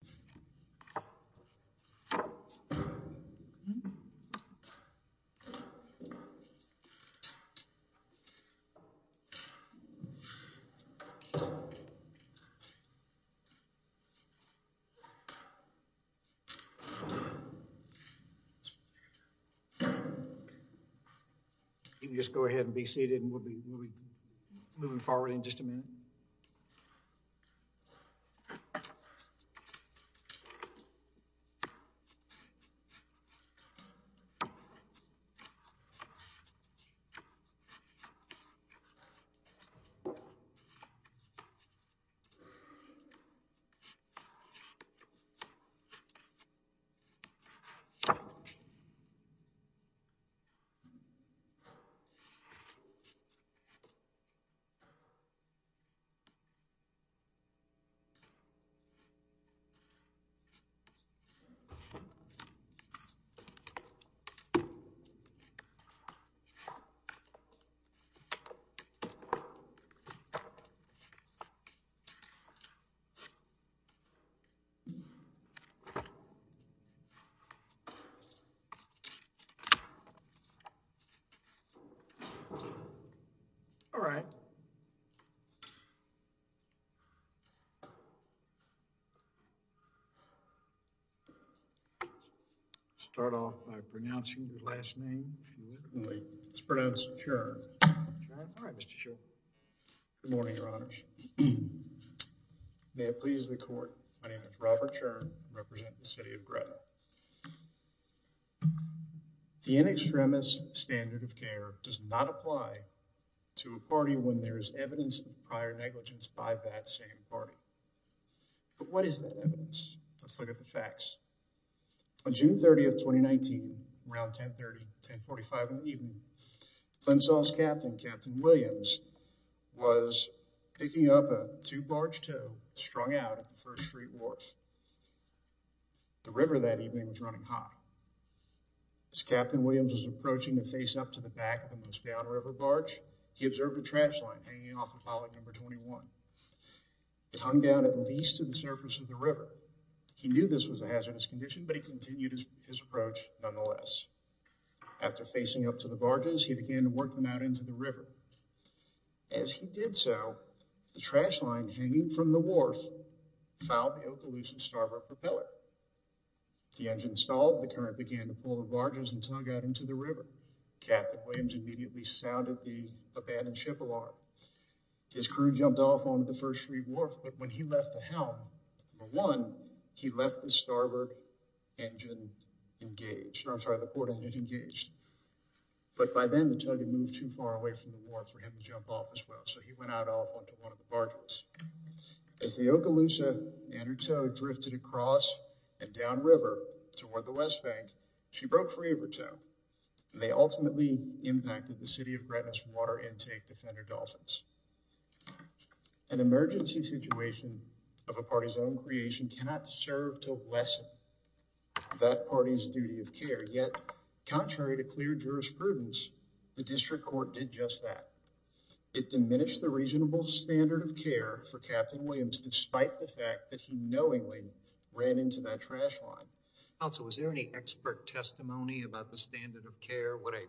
Board of Trustees Presentation November 10, 2015 Board of Trustees Meeting, Page 26 Robert Churn, City of Gretchen, N. extremist standard of care does not apply to a party when there is evidence of prior negligence by that same party. But what is that evidence? Let's look at the facts. On June 30, 2019, around 10.30, 10.45 in the evening, Clemson's captain, Captain Williams, was picking up a two-barge tow strung out at the First Street Wharf. The river that evening was running hot. As Captain Williams was approaching to face up the back of the most downriver barge, he observed a trash line hanging off of pilot number 21. It hung down at least to the surface of the river. He knew this was a hazardous condition, but he continued his approach nonetheless. After facing up to the barges, he began to work them out into the river. As he did so, the trash line hanging from the wharf fouled the Okaloosa starboard propeller. With the engine stalled, the current began to pull barges and tug out into the river. Captain Williams immediately sounded the abandoned ship alarm. His crew jumped off onto the First Street Wharf, but when he left the helm, number one, he left the starboard engine engaged. I'm sorry, the port engine engaged. But by then, the tug had moved too far away from the wharf for him to jump off as well, so he went out off onto one of the barges. As the Okaloosa and her tow drifted across and downriver toward the West Bank, she broke free of her tow, and they ultimately impacted the city of Gretna's water intake, Defender Dolphins. An emergency situation of a party's own creation cannot serve to lessen that party's duty of care, yet contrary to clear jurisprudence, the district court did just that. It diminished the reasonable standard of care for Captain Williams and that trash line. Counsel, was there any expert testimony about the standard of care, what a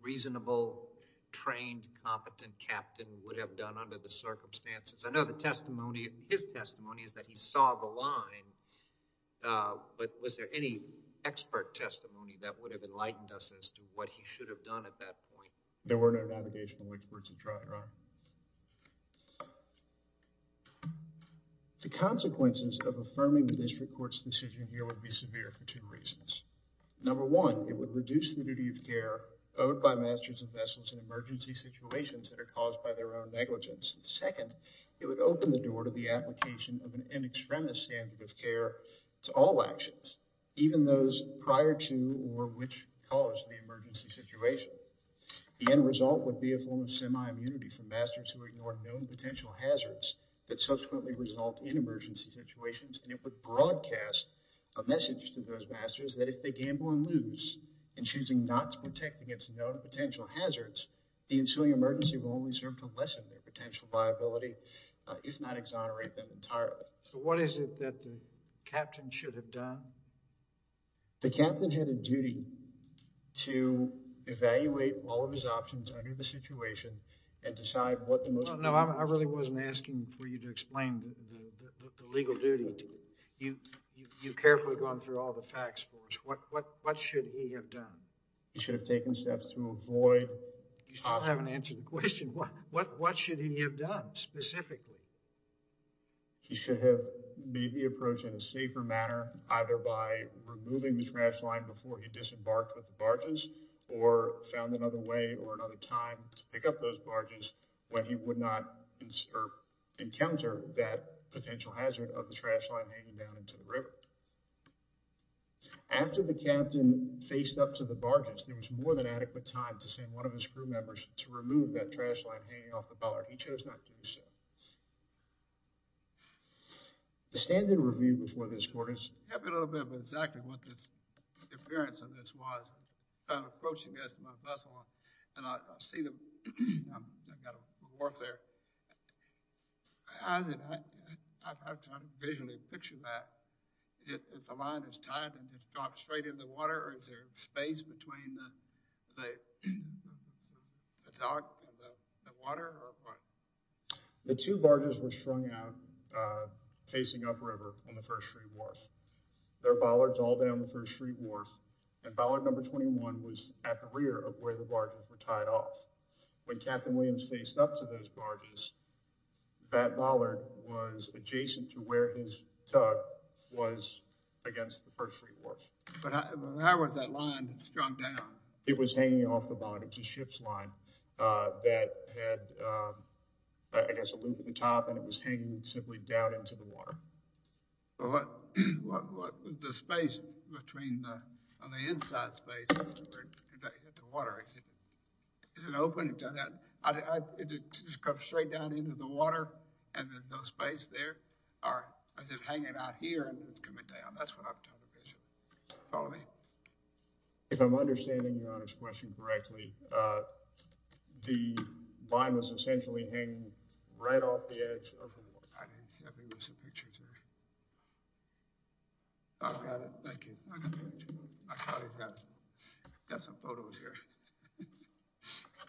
reasonable, trained, competent captain would have done under the circumstances? I know the testimony, his testimony, is that he saw the line, but was there any expert testimony that would have enlightened us as to what he should have done at that point? There were no navigational words of trial, Your Honor. The consequences of affirming the district court's decision here would be severe for two reasons. Number one, it would reduce the duty of care owed by masters and vessels in emergency situations that are caused by their own negligence. Second, it would open the door to the application of an an extremist standard of care to all actions, even those prior to or which caused the emergency situation. The end result would be a form of semi-immunity for masters who ignore known potential hazards that subsequently result in emergency situations, and it would broadcast a message to those masters that if they gamble and lose in choosing not to protect against known potential hazards, the ensuing emergency will only serve to lessen their potential viability, if not exonerate them entirely. So what is it that the captain should have done? The captain had a duty to evaluate all of his options under the situation and decide what the most... No, I really wasn't asking for you to explain the legal duty. You've carefully gone through all the facts for us. What should he have done? He should have taken steps to avoid... You still haven't answered the question. What should he have done specifically? He should have made the approach in a safer manner either by removing the trash line before he disembarked with the barges or found another way or another time to pick up those barges when he would not encounter that potential hazard of the trash line hanging down into the river. After the captain faced up to the barges, there was more than adequate time to send one of his crew members to remove that trash line hanging off the bar. He chose not to do so. The standard review before this court is... Give me a little bit of exactly what this appearance of this was. I'm approaching this with my bus on and I see them. I've got to walk there. I've got to visually picture that. Is the line as tight and just drop straight in the water or is there space between the dock and the water? The two barges were strung out facing up river on the first street wharf. There are bollards all down the first street wharf and bollard number 21 was at the rear of where the barges were tied off. When captain Williams faced up to those barges, that bollard was adjacent to where his tug was against the first street wharf. But how was that line strung down? It was hanging off the bottom. It was a ship's line that had, I guess, a loop at the top and it was hanging simply down into the water. What was the space between the on the inside space at the water? Is it open? Does it come straight down into the water and there's no space there or is it hanging out here and coming down? That's what I'm trying to picture. Follow me. If I'm understanding your Honor's question correctly, the line was essentially hanging right off the edge of the water.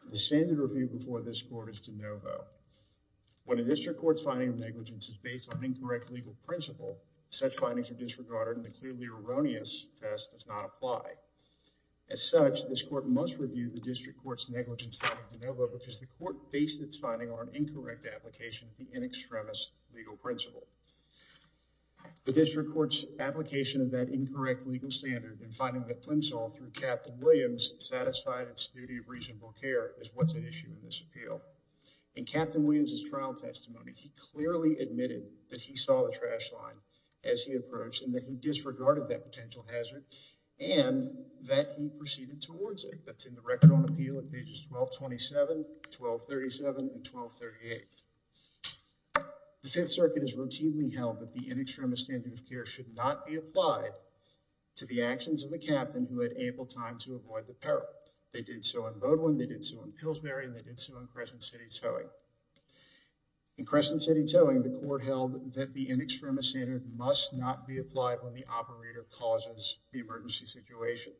The standard review before this court is de novo. When a district court's finding of negligence is based on incorrect legal principle, such findings are disregarded and the clearly erroneous test does not apply. As such, this court must review the district court's negligence finding de novo because the court based its finding on an incorrect application of the in extremis legal principle. The district court's application of that incorrect legal standard in finding the flimsoll through captain Williams satisfied its duty of reasonable care is what's at issue in this appeal. In captain Williams's trial testimony, he clearly admitted that he saw the trash line as he approached and that he disregarded that potential hazard and that he proceeded towards it. That's in the record on appeal at pages 1227, 1237, and 1238. The fifth circuit is routinely held that the in extremis standard of care should not be applied to the actions of the captain who had ample time to avoid the peril. They did so in Bowdoin, they did so in Pillsbury, and they did so in Crescent City Towing. In Crescent City Towing, the court held that the in extremis standard must not be applied when the operator causes the emergency situation.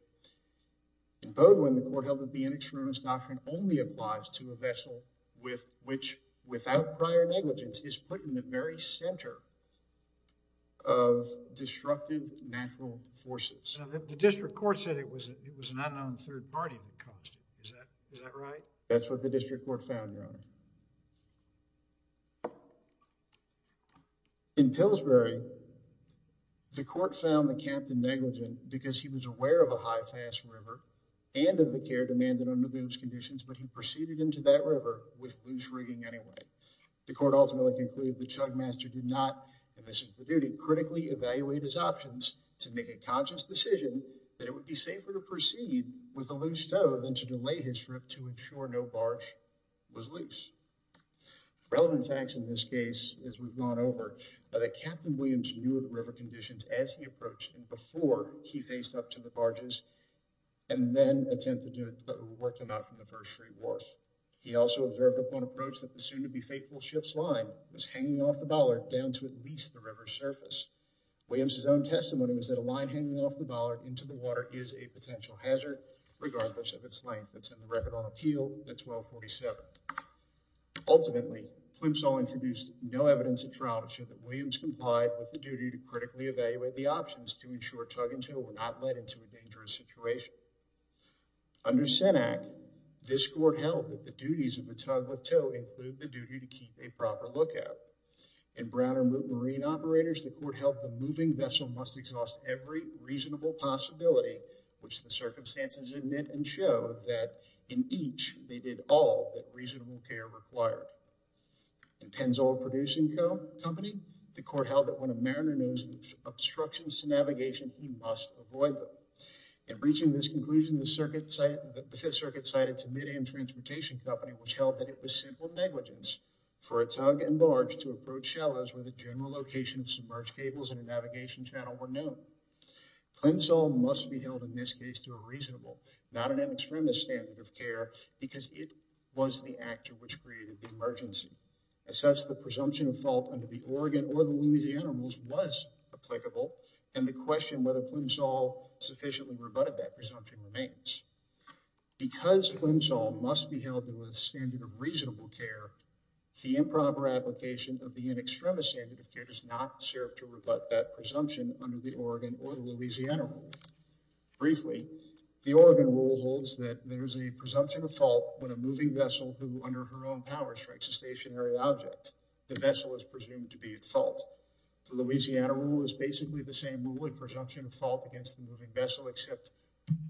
In Bowdoin, the court held that the in extremis doctrine only applies to a vessel with which, without prior negligence, is put in the very center of disruptive natural forces. The district court said it was an unknown third party that caused it. Is that right? That's what the district court found, your honor. In Pillsbury, the court found the captain negligent because he was aware of a high fast river and of the care demanded under those conditions, but he proceeded into that river with loose rigging anyway. The court ultimately concluded the chug master did not, and this is the duty, critically evaluate his options to make a conscious decision that it would be safer to proceed with a loose tow than to delay his trip to ensure no barge was loose. Relevant facts in this case, as we've gone over, are that Captain Williams knew of the river conditions as he approached and before he faced up to the barges and then attempted to work them out from the first three wharfs. He also observed upon approach that the soon-to-be-fateful ship's line was hanging off the bollard down to at least the river's surface. Williams's own testimony was that a line hanging off the bollard into the water is a potential hazard, regardless of its length that's in the record on appeal at 1247. Ultimately, Plimsoll introduced no evidence of trial to show that Williams complied with the duty to critically evaluate the options to ensure tug and tow were not led into a dangerous situation. Under Senn Act, this court held that the duties of the tug with tow include the duty to keep a proper lookout. In Brown or Moot Marine Operators, the court held the moving vessel must exhaust every reasonable possibility which the circumstances admit and show that in each they did all that reasonable care required. In Plimsoll Producing Company, the court held that when a mariner knows of obstructions to navigation, he must avoid them. In reaching this conclusion, the circuit cited the Fifth Circuit cited to Midiam Transportation Company which held that it was simple negligence for a tug and barge to approach shallows where the general location of submerged cables and a navigation channel were known. Plimsoll must be reasonable, not an extremist standard of care because it was the actor which created the emergency. As such, the presumption of fault under the Oregon or the Louisiana Rules was applicable and the question whether Plimsoll sufficiently rebutted that presumption remains. Because Plimsoll must be held to a standard of reasonable care, the improper application of the in extremis standard of care does not serve to rebut that presumption under the Oregon or the Louisiana Rules. Briefly, the Oregon Rule holds that there is a presumption of fault when a moving vessel who under her own power strikes a stationary object. The vessel is presumed to be at fault. The Louisiana Rule is basically the same rule in presumption of fault against the moving vessel except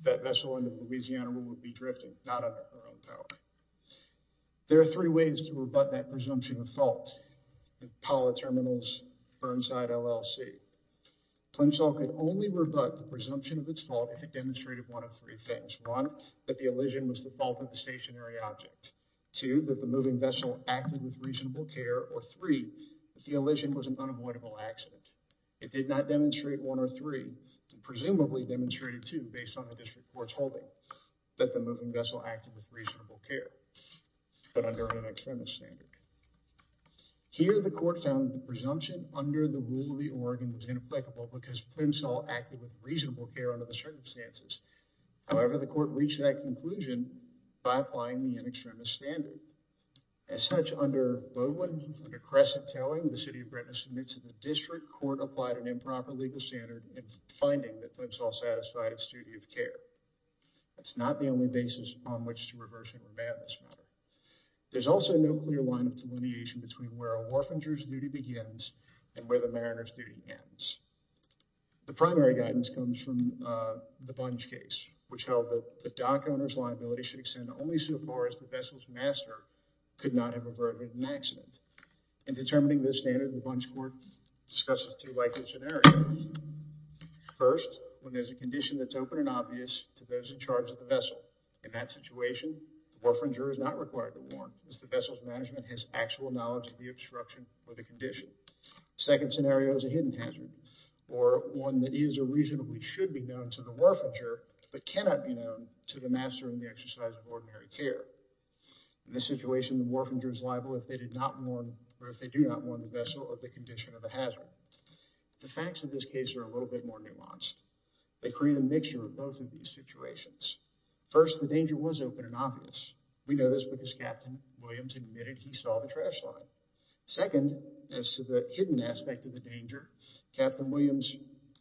that vessel under the Louisiana Rule would be drifting, not under her own power. There are three ways to rebut that presumption of fault. The Pala Terminals Burnside LLC. Plimsoll could only rebut the presumption of its fault if it demonstrated one of three things. One, that the elision was the fault of the stationary object. Two, that the moving vessel acted with reasonable care or three, if the elision was an unavoidable accident. It did not demonstrate one or three and presumably demonstrated two based on the district court's holding that the moving vessel acted with reasonable care but under an extremist standard. Here the court found the presumption under the Rule of the Oregon was inapplicable because Plimsoll acted with reasonable care under the circumstances. However, the court reached that conclusion by applying the an extremist standard. As such, under Bowen, under Crescent Towing, the City of Britain submits to the district court applied an improper legal standard in finding that Plimsoll satisfied its duty of care. That's not the only basis on which to reversing the madness matter. There's also no clear line between where a warfinger's duty begins and where the mariner's duty ends. The primary guidance comes from the Bunch case, which held that the dock owner's liability should extend only so far as the vessel's master could not have averted an accident. In determining this standard, the Bunch court discusses two likely scenarios. First, when there's a condition that's open and obvious to those in charge of the vessel. In that situation, the warfinger is not required to warn as the actual knowledge of the obstruction or the condition. Second scenario is a hidden hazard or one that is or reasonably should be known to the warfinger, but cannot be known to the master in the exercise of ordinary care. In this situation, the warfinger is liable if they did not warn or if they do not warn the vessel of the condition of a hazard. The facts of this case are a little bit more nuanced. They create a mixture of both of these situations. First, the danger was open and obvious. We know this because Captain Williams admitted he saw the trash line. Second, as to the hidden aspect of the danger, Captain Williams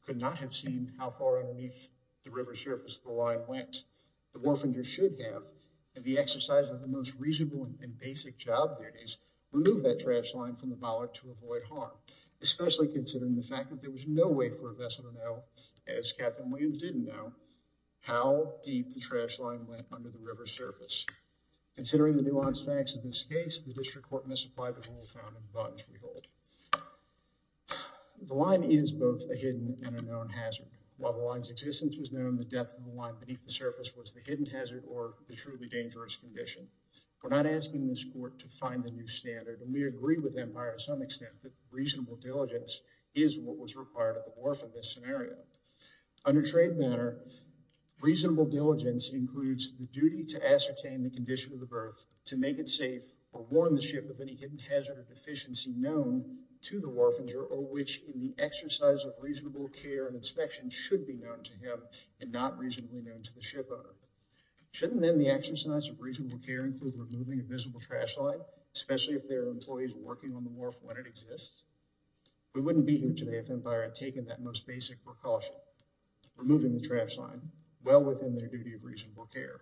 could not have seen how far underneath the river surface the line went. The warfinger should have, and the exercise of the most reasonable and basic job there is, remove that trash line from the bollock to avoid harm, especially considering the fact that there was no way for a vessel to know, as Captain The line is both a hidden and a known hazard. While the line's existence was known, the depth of the line beneath the surface was the hidden hazard or the truly dangerous condition. We're not asking this court to find a new standard, and we agree with Empire to some extent that reasonable diligence is what was required at the wharf in this scenario. Under trade manner, reasonable diligence includes the duty to ascertain the condition of the berth, to make it safe, or warn the ship of any hidden hazard or deficiency known to the warfinger, or which in the exercise of reasonable care and inspection should be known to him and not reasonably known to the ship owner. Shouldn't then the exercise of reasonable care include removing a visible trash line, especially if there are employees working on the wharf when it exists? We wouldn't be here today if Empire had taken that most basic precaution, removing the trash line well within their duty of reasonable care.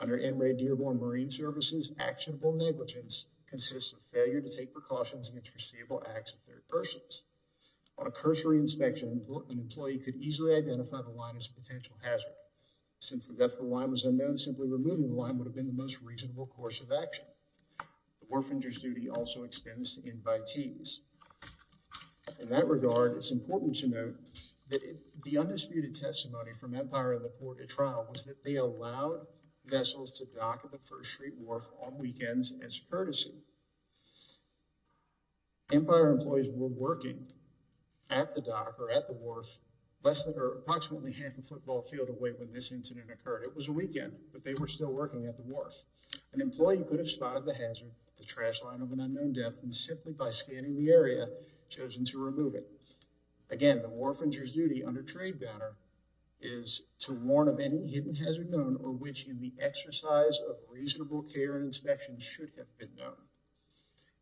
Under NRA Dearborn Marine Services, actionable negligence consists of failure to take precautions against foreseeable acts of third persons. On a cursory inspection, an employee could easily identify the line as a potential hazard. Since the depth of the line was unknown, simply removing the line would have been the most reasonable course of action. The warfinger's duty also extends to invitees. In that regard, it's important to note that the undisputed testimony from Empire and the court at trial was that they allowed vessels to dock at the First Street wharf on weekends as courtesy. Empire employees were working at the dock or at the wharf less than or approximately half a football field away when this incident occurred. It was a hazard, the trash line of an unknown depth, and simply by scanning the area, chosen to remove it. Again, the warfinger's duty under trade banner is to warn of any hidden hazard known or which in the exercise of reasonable care and inspection should have been known.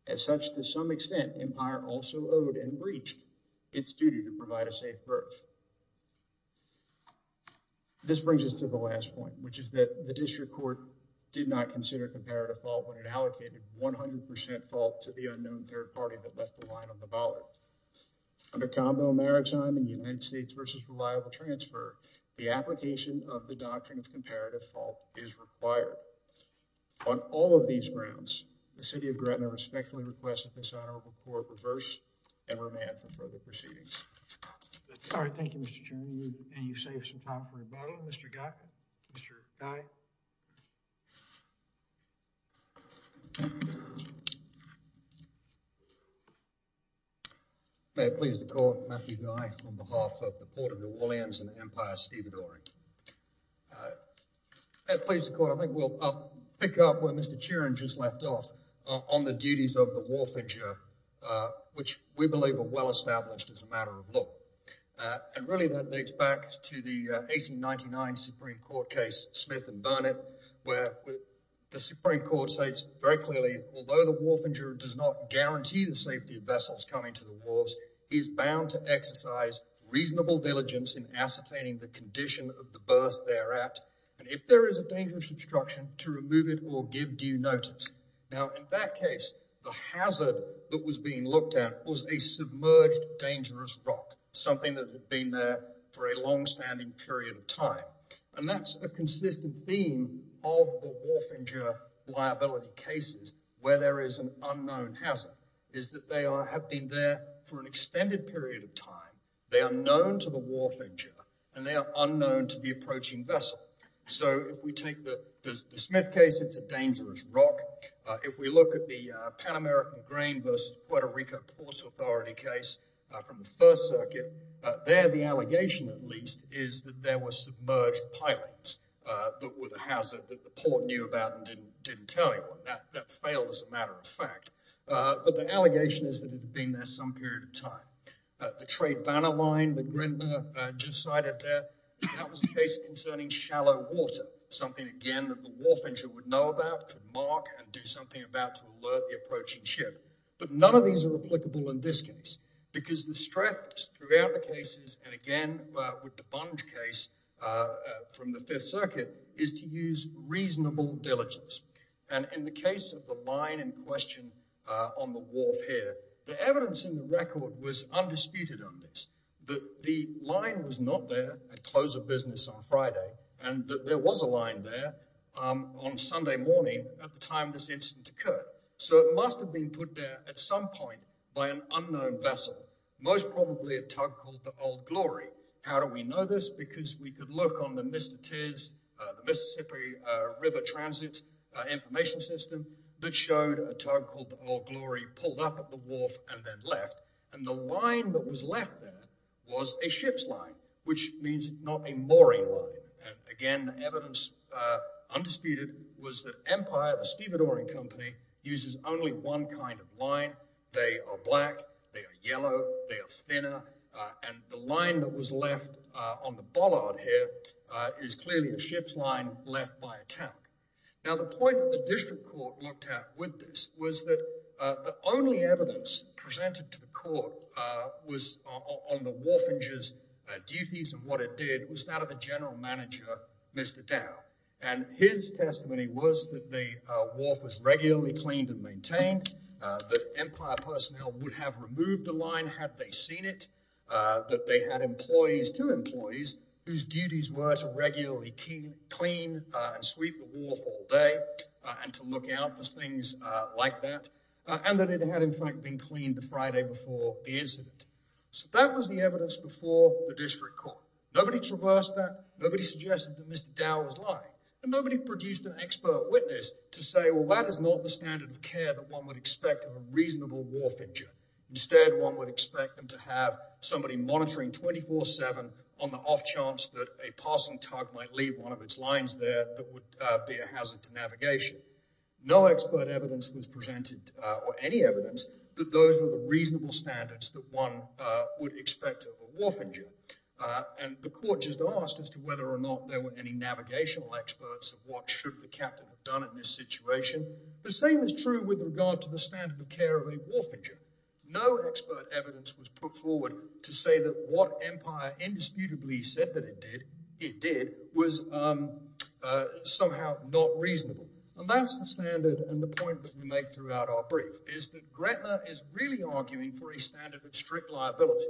As such, to some extent, Empire also owed and breached its duty to provide a safe berth. This brings us to the last point, which is that the district court did not consider comparative fault when it allocated 100 percent fault to the unknown third party that left the line on the ballot. Under combo maritime and United States versus reliable transfer, the application of the doctrine of comparative fault is required. On all of these grounds, the city of Gretna respectfully requests that this honorable court reverse and remand for further proceedings. All right, thank you, Mr. Chairman, and you've some time for rebuttal, Mr. Guy. May it please the court, Matthew Guy on behalf of the Port of New Orleans and the Empire of Stavridol. May it please the court, I think we'll pick up where Mr. Churin just left off on the duties of the warfinger, which we believe are well established as a matter of law, and really that dates back to the 1899 Supreme Court case Smith and Burnett, where the Supreme Court states very clearly, although the warfinger does not guarantee the safety of vessels coming to the wharves, he is bound to exercise reasonable diligence in ascertaining the condition of the berth there at, and if there is a dangerous obstruction, to remove it or give due notice. Now, in that case, the hazard that was being looked at was a submerged dangerous rock, something that had been there for a long-standing period of time, and that's a consistent theme of the warfinger liability cases, where there is an unknown hazard, is that they have been there for an extended period of time, they are known to the warfinger, and they are unknown to the If we look at the Pan American Grain versus Puerto Rico Port Authority case from the First Circuit, there the allegation, at least, is that there were submerged pilings, but with a hazard that the port knew about and didn't tell you, that failed as a matter of fact, but the allegation is that it had been there some period of time. The trade banner line that Grindler just cited there, that was a case concerning shallow water, something, again, that the warfinger would know about, could mark, and do something about to alert the approaching ship, but none of these are applicable in this case, because the stress throughout the cases, and again, with the Bonge case from the Fifth Circuit, is to use reasonable diligence, and in the case of the line in question on the wharf here, the evidence in the record was undisputed on this, that the line was not there at close of business on Friday, and that there was a line there on Sunday morning at the time this incident occurred, so it must have been put there at some point by an unknown vessel, most probably a tug called the Old Glory. How do we know this? Because we could look on the Mississippi River Transit information system that showed a tug called the Old Glory pulled up at the wharf and then left, and the line that was left there was a ship's line, which means not a mooring line, and again, the evidence undisputed was that Empire, the stevedoring company, uses only one kind of line. They are black, they are yellow, they are thinner, and the line that was left on the bollard here is clearly a ship's line left by a tug. Now, the point that the district court looked at with this was that the only evidence presented to the court was on the warfinger's duties, and what it did was that of the general manager, Mr. Dow, and his testimony was that the wharf was regularly cleaned and maintained, that Empire personnel would have removed the line had they seen it, that they had employees, two employees, whose duties were to regularly clean and sweep the wharf all day and to look out for things like that, and that it had in fact been cleaned the Friday before the incident. So that was the evidence before the district court. Nobody traversed that, nobody suggested that Mr. Dow was lying, and nobody produced an expert witness to say, well, that is not the standard of care that one would expect of a reasonable warfinger. Instead, one would expect them to have somebody monitoring 24-7 on the off chance that a passing tug might leave one of its lines there that would be a hazard to navigation. No expert evidence was put forward to say that those were the reasonable standards that one would expect of a warfinger, and the court just asked as to whether or not there were any navigational experts of what should the captain have done in this situation. The same is true with regard to the standard of care of a warfinger. No expert evidence was put forward to say that what Empire indisputably said that it did was somehow not reasonable, and that's the standard and the point that we make throughout our brief is that Gretna is really arguing for a standard of strict liability,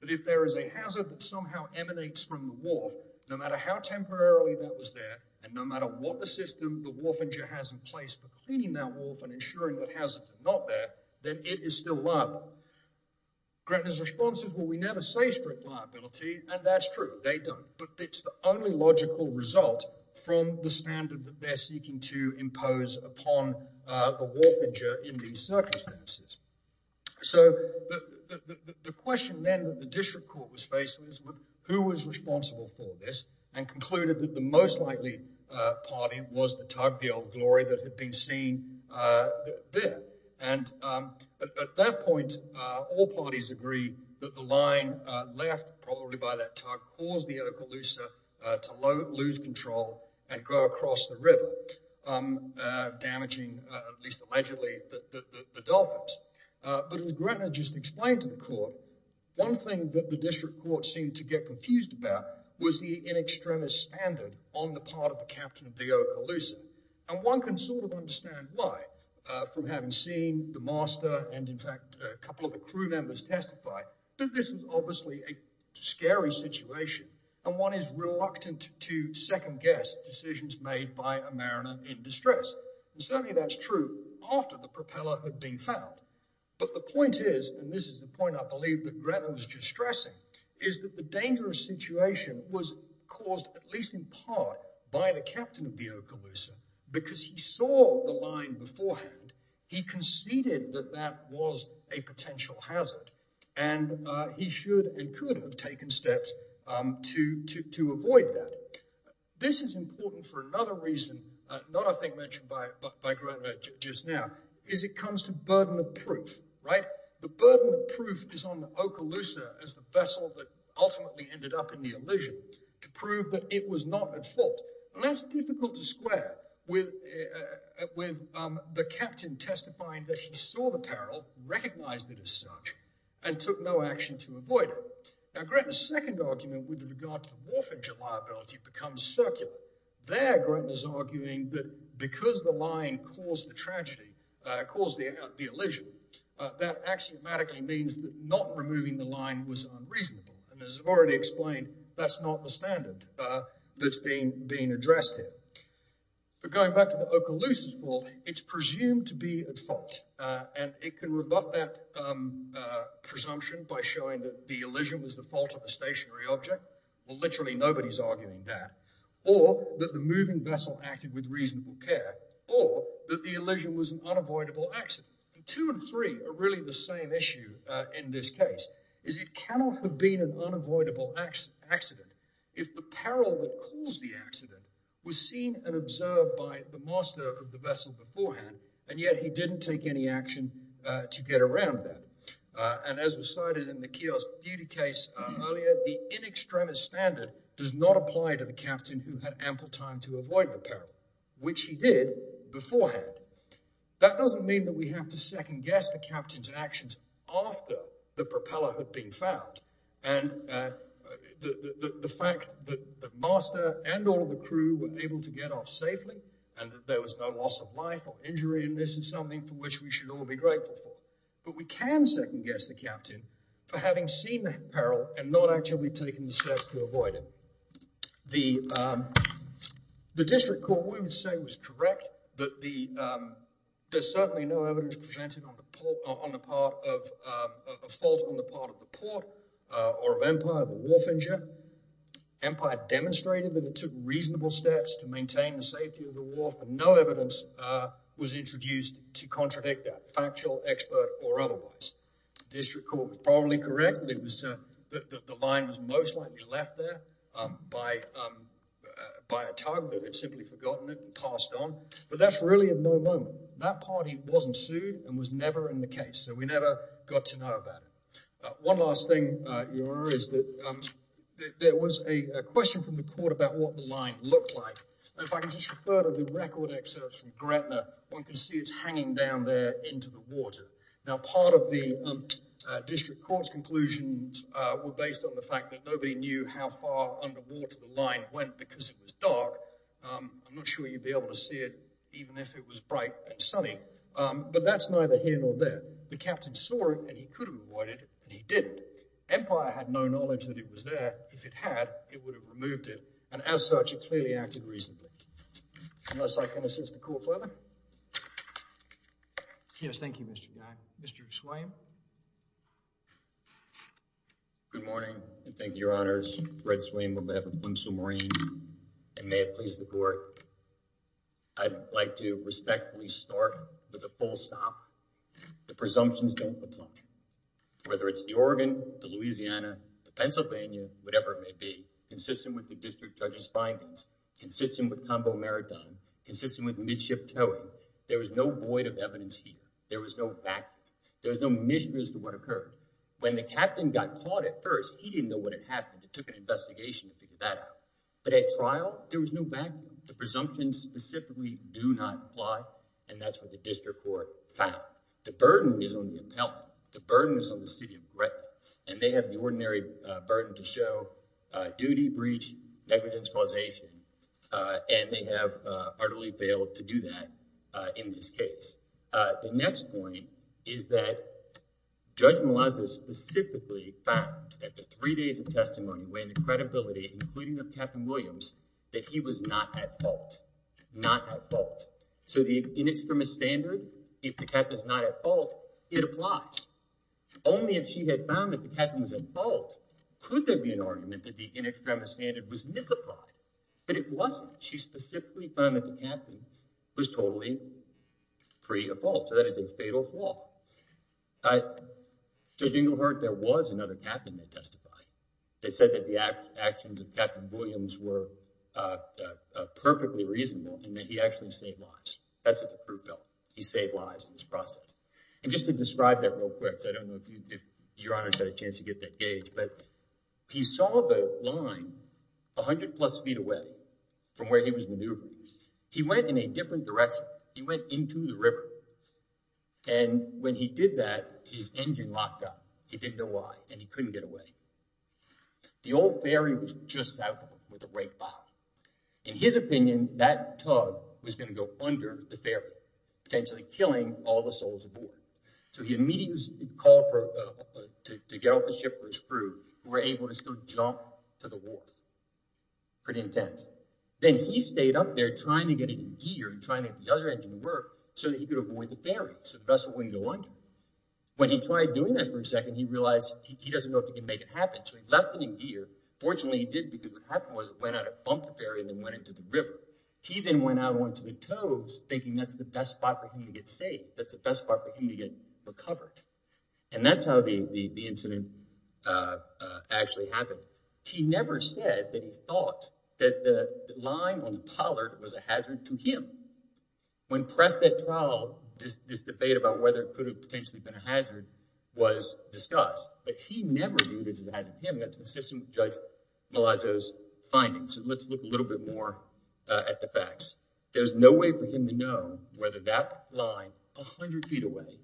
that if there is a hazard that somehow emanates from the wharf, no matter how temporarily that was there, and no matter what the system the warfinger has in place for cleaning that wharf and ensuring that hazards are not there, then it is still liable. Gretna's response is, well, we never say strict liability, and that's true, they don't, but it's the only logical result from the standard that they're in these circumstances. So the question then that the district court was faced with, who was responsible for this, and concluded that the most likely party was the tug, the Old Glory, that had been seen there, and at that point all parties agreed that the line left probably by that tug caused the Okaloosa to lose control and go across the river, damaging at least allegedly the dolphins. But as Gretna just explained to the court, one thing that the district court seemed to get confused about was the in extremis standard on the part of the captain of the Okaloosa, and one can sort of understand why from having seen the master and in fact a couple of the crew members testify, that this is obviously a scary situation and one is reluctant to second guess decisions made by a mariner in distress. And certainly that's true after the propeller had been found, but the point is, and this is the point I believe that Gretna was just stressing, is that the dangerous situation was caused at least in part by the captain of the Okaloosa because he saw the line beforehand, he conceded that that was a potential hazard, and he should and could have taken steps to avoid that. This is important for another reason, not a thing mentioned by Gretna just now, is it comes to burden of proof, right? The burden of proof is on the Okaloosa as the vessel that ultimately ended up in the illusion to prove that it was not at fault. And that's difficult to square with the captain testifying that he saw the peril, recognized it as such, and took no action to avoid it. Now Gretna's second argument with regard to the warfare liability becomes circular. There Gretna's arguing that because the line caused the tragedy, caused the illusion, that axiomatically means that not removing the standard that's being addressed here. But going back to the Okaloosa's fault, it's presumed to be at fault, and it can rebut that presumption by showing that the illusion was the fault of a stationary object, well literally nobody's arguing that, or that the moving vessel acted with reasonable care, or that the illusion was an unavoidable accident. And two and three are really the same issue in this case, is it cannot have been an unavoidable accident if the peril that caused the accident was seen and observed by the master of the vessel beforehand, and yet he didn't take any action to get around that. And as was cited in the kiosk duty case earlier, the in extremis standard does not apply to the captain who had ample time to avoid the peril, which he did after the propeller had been found. And the fact that the master and all the crew were able to get off safely, and that there was no loss of life or injury in this is something for which we should all be grateful for. But we can second guess the captain for having seen the peril and not actually taking the steps to avoid it. The district court would say was correct that there's certainly no evidence presented on the part of a fault on the part of the port or of Empire of a wharf injure. Empire demonstrated that it took reasonable steps to maintain the safety of the wharf and no evidence was introduced to contradict that, factual, expert, or otherwise. District court was probably correct that the line was most likely left there by a tug that had simply forgotten it and passed on, but that's really of no moment. That party wasn't sued and was never in the case, so we never got to know about it. One last thing is that there was a question from the court about what the line looked like. If I can just refer to the record excerpts from Gretna, one can see it's hanging down there into the water. Now part of the district court's conclusions were based on the fact that nobody knew how far underwater the line went because it was dark. I'm not sure you'd be able to see it even if it was bright and sunny, but that's neither here nor there. The captain saw it and he could have avoided it and he didn't. Empire had no knowledge that it was there. If it had, it would have removed it and as such it clearly acted reasonably. Unless I can assist the court further. Yes, thank you Mr. Mack. Mr. Swayne. Good morning and thank you, your honors. Fred Swayne on behalf of Windsor Marine and may it please the court, I'd like to respectfully start with a full stop. The presumptions don't apply. Whether it's the Oregon, the Louisiana, the Pennsylvania, whatever it may be, consistent with the district judge's findings, consistent with combo maritime, consistent with midship towing, there was no void of evidence here. There was no fact, there was no mission as to what occurred. When the captain got caught at first, he didn't know what happened. It took an investigation to figure that out, but at trial there was no vacuum. The presumptions specifically do not apply and that's what the district court found. The burden is on the appellant. The burden is on the city of breadth and they have the ordinary burden to show duty, breach, negligence, causation, and they have utterly failed to do that in this case. The next point is that Judge Malazzo specifically found that the three days of testimony when the credibility, including of Captain Williams, that he was not at fault, not at fault. So the in extremis standard, if the captain is not at fault, it applies. Only if she had found that the captain was at fault could there be an argument that the in extremis standard was misapplied, but it wasn't. She specifically found that the captain was totally free of fault. So that is a fatal flaw. Judge Inglehart, there was another captain that testified that said that the actions of Captain Williams were perfectly reasonable and that he actually saved lives. That's what the proof felt. He saved lives in this process. And just to describe that real quick, I don't know if your honor had a chance to get that gauge, but he saw the line a hundred plus feet away from where he was maneuvering. He went in a different direction. He went into the river and when he did that, his engine locked up. He didn't know why and he couldn't get away. The old ferry was just south of him with a right bow. In his opinion, that tug was going to go under the ferry, potentially killing all the souls aboard. So he immediately called to get off the ship for his crew who were able to still jump to the wharf. Pretty intense. Then he stayed up there trying to get it in gear and trying to get the other engine to work so that he could avoid the ferry so the vessel wouldn't go under. When he tried doing that for a second, he realized he doesn't know if he can make it happen. So he left it in gear. Fortunately, he did because what went into the river. He then went out onto the coves, thinking that's the best spot for him to get saved. That's the best spot for him to get recovered. And that's how the incident actually happened. He never said that he thought that the line on the pollard was a hazard to him. When pressed at trial, this debate about whether it could have potentially been a hazard was discussed, but he never knew it was a hazard to him. That's consistent with Judge Malazzo's comments. Let's look a little bit more at the facts. There's no way for him to know whether that line, a hundred feet away,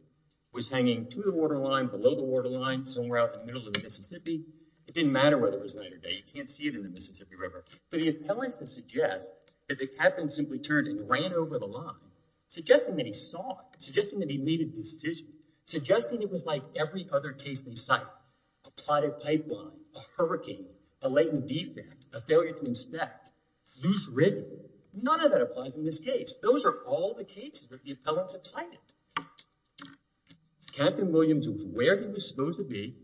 was hanging to the waterline, below the waterline, somewhere out the middle of the Mississippi. It didn't matter whether it was night or day. You can't see it in the Mississippi River. But the appellants then suggest that the captain simply turned and ran over the line, suggesting that he saw it, suggesting that he made a decision, suggesting it was like every other case they cite. A plotted pipeline, a hurricane, a latent defect, a failure to inspect, loose rigging. None of that applies in this case. Those are all the cases that the appellants have cited. Captain Williams was where he was supposed to be,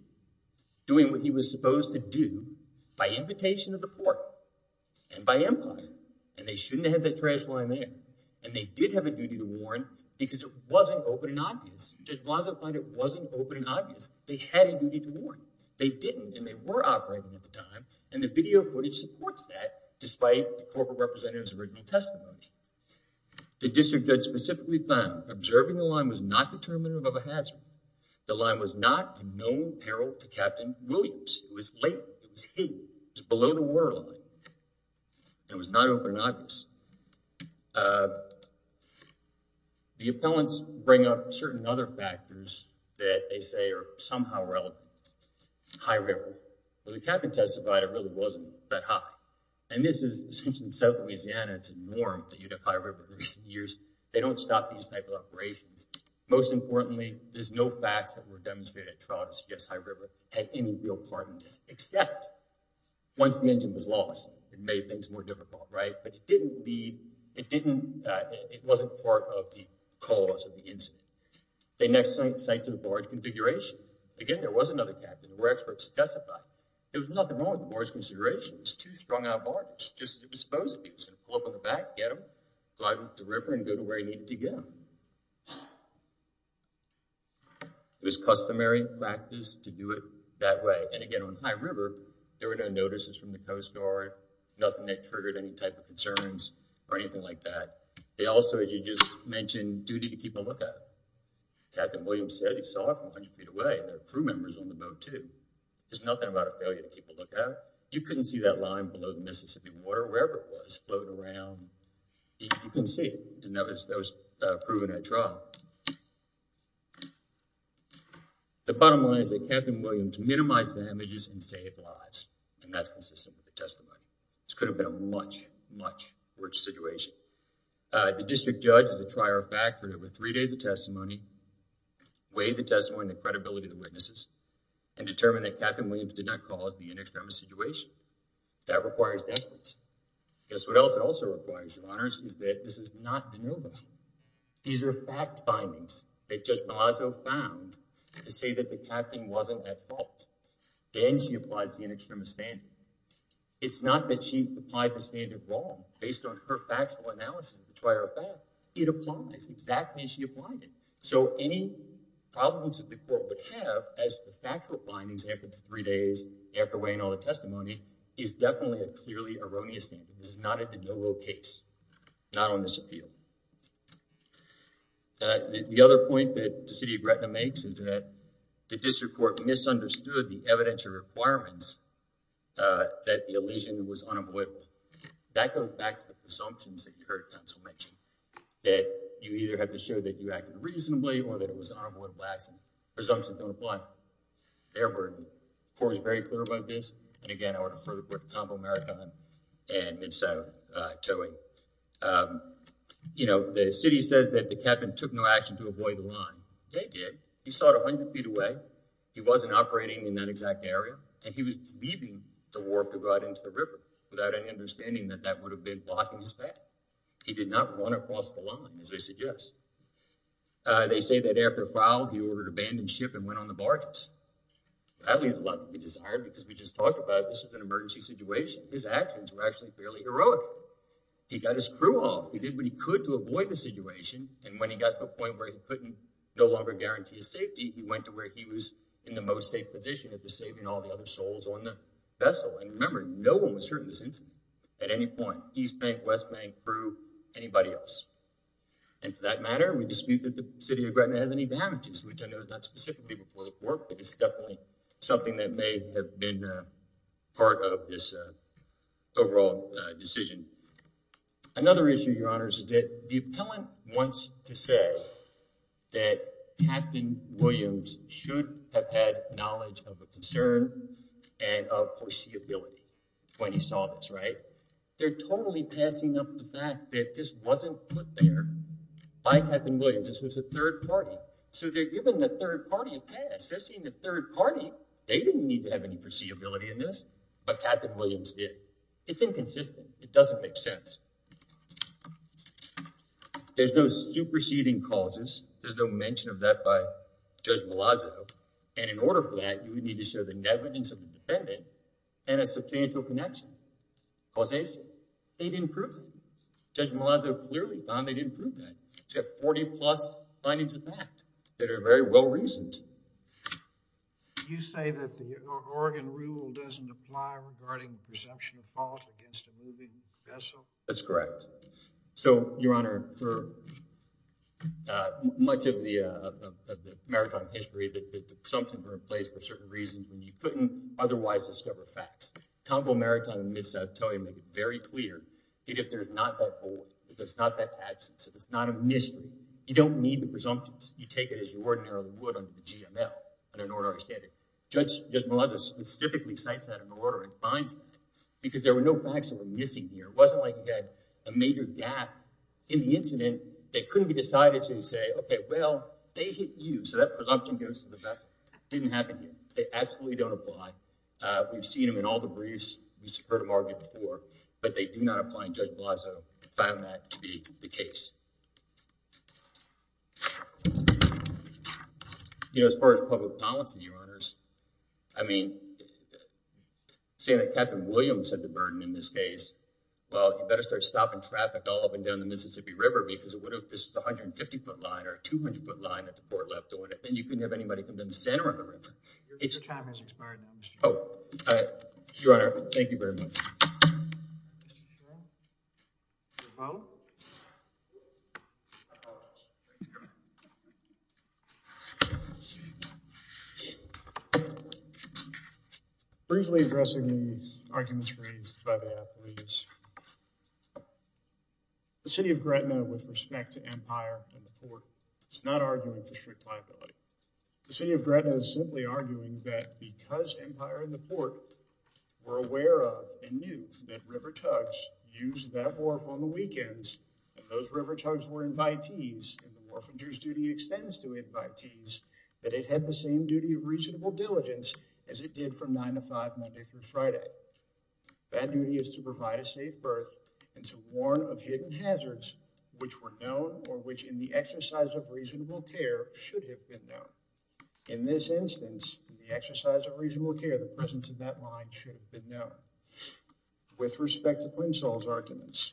doing what he was supposed to do by invitation of the court and by empire. And they shouldn't have had that trash line there. And they did have a duty to warn because it wasn't open and obvious. Judge Malazzo found it wasn't open and obvious. They had a duty to warn. They didn't, and they were operating at the time, and the video footage supports that, despite the corporate representative's original testimony. The district judge specifically found observing the line was not determinative of a hazard. The line was not in no peril to Captain Williams. It was latent. It was hidden. It was below the waterline. It was not open and obvious. The appellants bring up certain other factors that they say are somehow relevant. High river. Well, the captain testified it really wasn't that high. And this is essentially in South Louisiana. It's a norm that you'd have high river in recent years. They don't stop these type of operations. Most importantly, there's no facts that were demonstrated at trial to suggest high river had any real part in this, except once the engine was lost, it made things more difficult, right? But it didn't lead, it didn't, it wasn't part of the cause of the incident. They next sent to the barge configuration. Again, there was another captain. There were experts who testified. There was nothing wrong with the barge consideration. It was too strong a barge. Just it was supposed to be. It was going to pull up on the back, get them, go out into the river, and go to where he needed to get them. It was customary practice to do it that way. And again, on high river, there were no notices from the Coast Guard, nothing that triggered any type concerns or anything like that. They also, as you just mentioned, duty to keep a look at it. Captain Williams says he saw it from 100 feet away. There were crew members on the boat too. There's nothing about a failure to keep a look at it. You couldn't see that line below the Mississippi water, wherever it was floating around. You couldn't see it, and that was proven at trial. The bottom line is that Captain Williams minimized the damages and saved lives, and that's consistent with the testimony. This could have been a much, much worse situation. The district judge is a trier of fact. There were three days of testimony. Weigh the testimony, the credibility of the witnesses, and determine that Captain Williams did not cause the inextremis situation. That requires evidence. Guess what else it also requires, your honors, is that this is not maneuver. These are fact findings that Judge Malazzo found to say that the captain wasn't at fault. Then she applies the inextremis standard. It's not that she applied the standard wrong, based on her factual analysis of the trier of fact. It applies exactly as she applied it. So any problems that the court would have, as the factual findings after the three days, after weighing all the testimony, is definitely a clearly erroneous standard. This is not a de novo case, not on this appeal. The other point that the city of Gretna makes is that the district court misunderstood the evidentiary requirements that the elision was unavoidable. That goes back to the presumptions that you heard counsel mention, that you either have to show that you acted reasonably or that it was an unavoidable action. Presumptions don't apply. They're burdened. The court is very clear about this. The city says that the captain took no action to avoid the line. They did. He started 100 feet away. He wasn't operating in that exact area and he was leaving the wharf to go out into the river without any understanding that that would have been blocking his path. He did not run across the line, as they suggest. They say that after a foul, he ordered abandon ship and this was an emergency situation. His actions were actually fairly heroic. He got his crew off. He did what he could to avoid the situation and when he got to a point where he couldn't no longer guarantee his safety, he went to where he was in the most safe position of saving all the other souls on the vessel. Remember, no one was hurt in this incident at any point. East bank, west bank, crew, anybody else. For that matter, we dispute that the city of Gretna has any damages, which I know is not specifically before the court, but it's definitely something that may have been a part of this overall decision. Another issue, your honors, is that the appellant wants to say that Captain Williams should have had knowledge of a concern and of foreseeability when he saw this, right? They're totally passing up the fact that this wasn't put there by Captain Williams. This was a third party, so they're giving the third party a pass. They're seeing the third party. They didn't need to have any foreseeability in this, but Captain Williams did. It's inconsistent. It doesn't make sense. There's no superseding causes. There's no mention of that by Judge Malazzo and in order for that, you would need to show the negligence of the defendant and a substantial connection, causation. They didn't prove it. Judge Malazzo clearly found they didn't prove that. They have 40 plus findings of that that are very well reasoned. You say that the Oregon rule doesn't apply regarding the presumption of fault against a moving vessel? That's correct. So, your honor, for much of the maritime history that presumptions were in place for certain reasons when you couldn't otherwise discover facts, Conval Maritime and Mid-South Towing make it very clear that if there's not that fault, if there's not that absence, if it's not a mission, you don't need the presumptions. You take it as you ordinarily would under the GML, under an ordinary standard. Judge Malazzo specifically cites that in order and finds that because there were no facts that were missing here. It wasn't like you had a major gap in the incident that couldn't be decided to say, okay, well, they hit you, so that presumption goes to the vessel. It didn't happen here. They absolutely don't apply. We've seen them in all the briefs. We've heard them argued before, but they do not apply, and Judge Malazzo found that to be the case. You know, as far as public policy, your honors, I mean, saying that Captain Williams had the burden in this case, well, you better start stopping traffic all up and down the Mississippi River because if this was a 150-foot line or a 200-foot line at the port left doing it, then you couldn't have anybody come in the center of the river. Your time has expired now, Mr. Chairman. Oh, your honor, thank you very much. Briefly addressing the arguments raised by the athletes, the city of Gretna, with respect to empire and the port, is not arguing for strict liability. The city of Gretna is simply arguing that because empire and the port were aware of and knew that river tugs used that wharf on the weekends, and those river tugs were invitees, and the orphanage's duty extends to invitees, that it had the same duty of reasonable diligence as it did from 9 to 5, Monday through Friday. That duty is to provide a safe berth and to warn of hidden In this instance, the exercise of reasonable care, the presence of that line should have been known with respect to Flensol's arguments.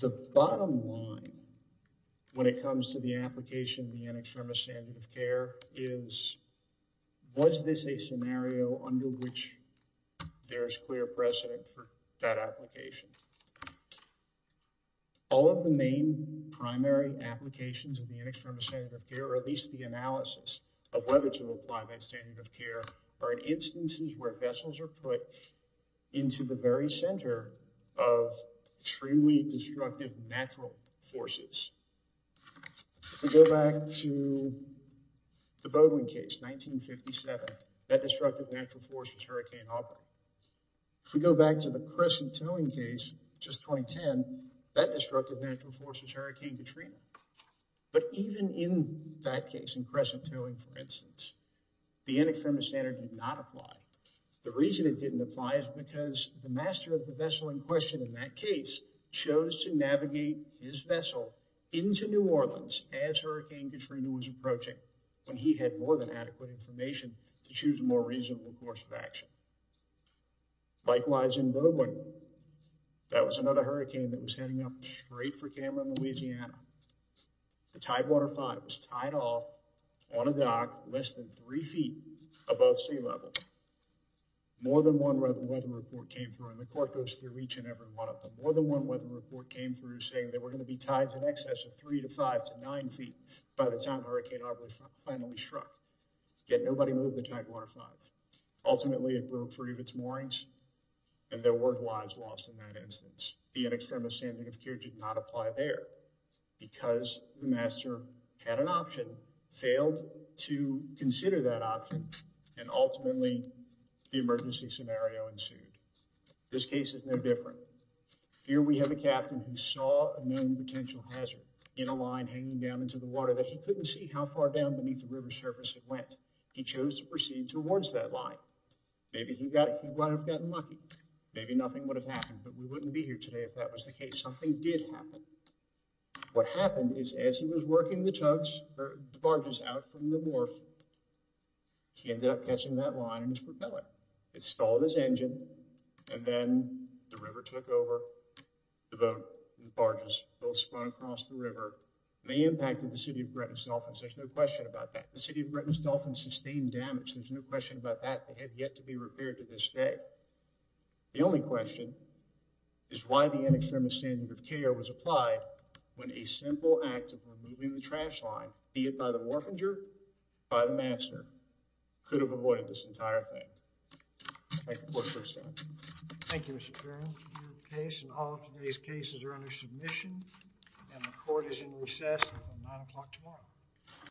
The bottom line when it comes to the application of the Antextremist Standard of Care is, was this a scenario under which there is clear precedent for that application? All of the main primary applications of the Antextremist Standard of Care, or at least the analysis of whether to apply that standard of care, are in instances where vessels are put into the very center of truly destructive natural forces. If we go back to the Boudouin case, 1957, that destructive natural force was Hurricane Auburn. If we go back to the Crescent Towing case, just 2010, that destructive natural force is Hurricane Katrina. But even in that case, in Crescent Towing for instance, the Antextremist Standard did not apply. The reason it didn't apply is because the master of the vessel in question in that case chose to navigate his vessel into New Orleans as Hurricane Katrina was approaching, when he had more than adequate information to more reasonable course of action. Likewise in Boudouin, that was another hurricane that was heading up straight for Cameron, Louisiana. The Tidewater 5 was tied off on a dock less than three feet above sea level. More than one weather report came through, and the court goes through each and every one of them, more than one weather report came through saying there were going to be tides in excess of three to five to nine feet by the time Hurricane Auburn finally struck. Yet nobody moved the Tidewater 5. Ultimately it broke free of its moorings, and there were lives lost in that instance. The Antextremist Standard of Care did not apply there because the master had an option, failed to consider that option, and ultimately the emergency scenario ensued. This case is no different. Here we have a captain who saw a known potential hazard in a line hanging down into the towards that line. Maybe he got it. He might have gotten lucky. Maybe nothing would have happened, but we wouldn't be here today if that was the case. Something did happen. What happened is as he was working the tugs or the barges out from the wharf, he ended up catching that line in his propeller. It stalled his engine, and then the river took over. The boat and the barges both spun across the river. They impacted the city of Gretna's There's no question about that. They have yet to be repaired to this day. The only question is why the Antextremist Standard of Care was applied when a simple act of removing the trash line, be it by the morphinger or by the master, could have avoided this entire thing. Thank you, Mr. Chairman. Your case and all of today's cases are under submission, and the court is in recess until nine o'clock tomorrow.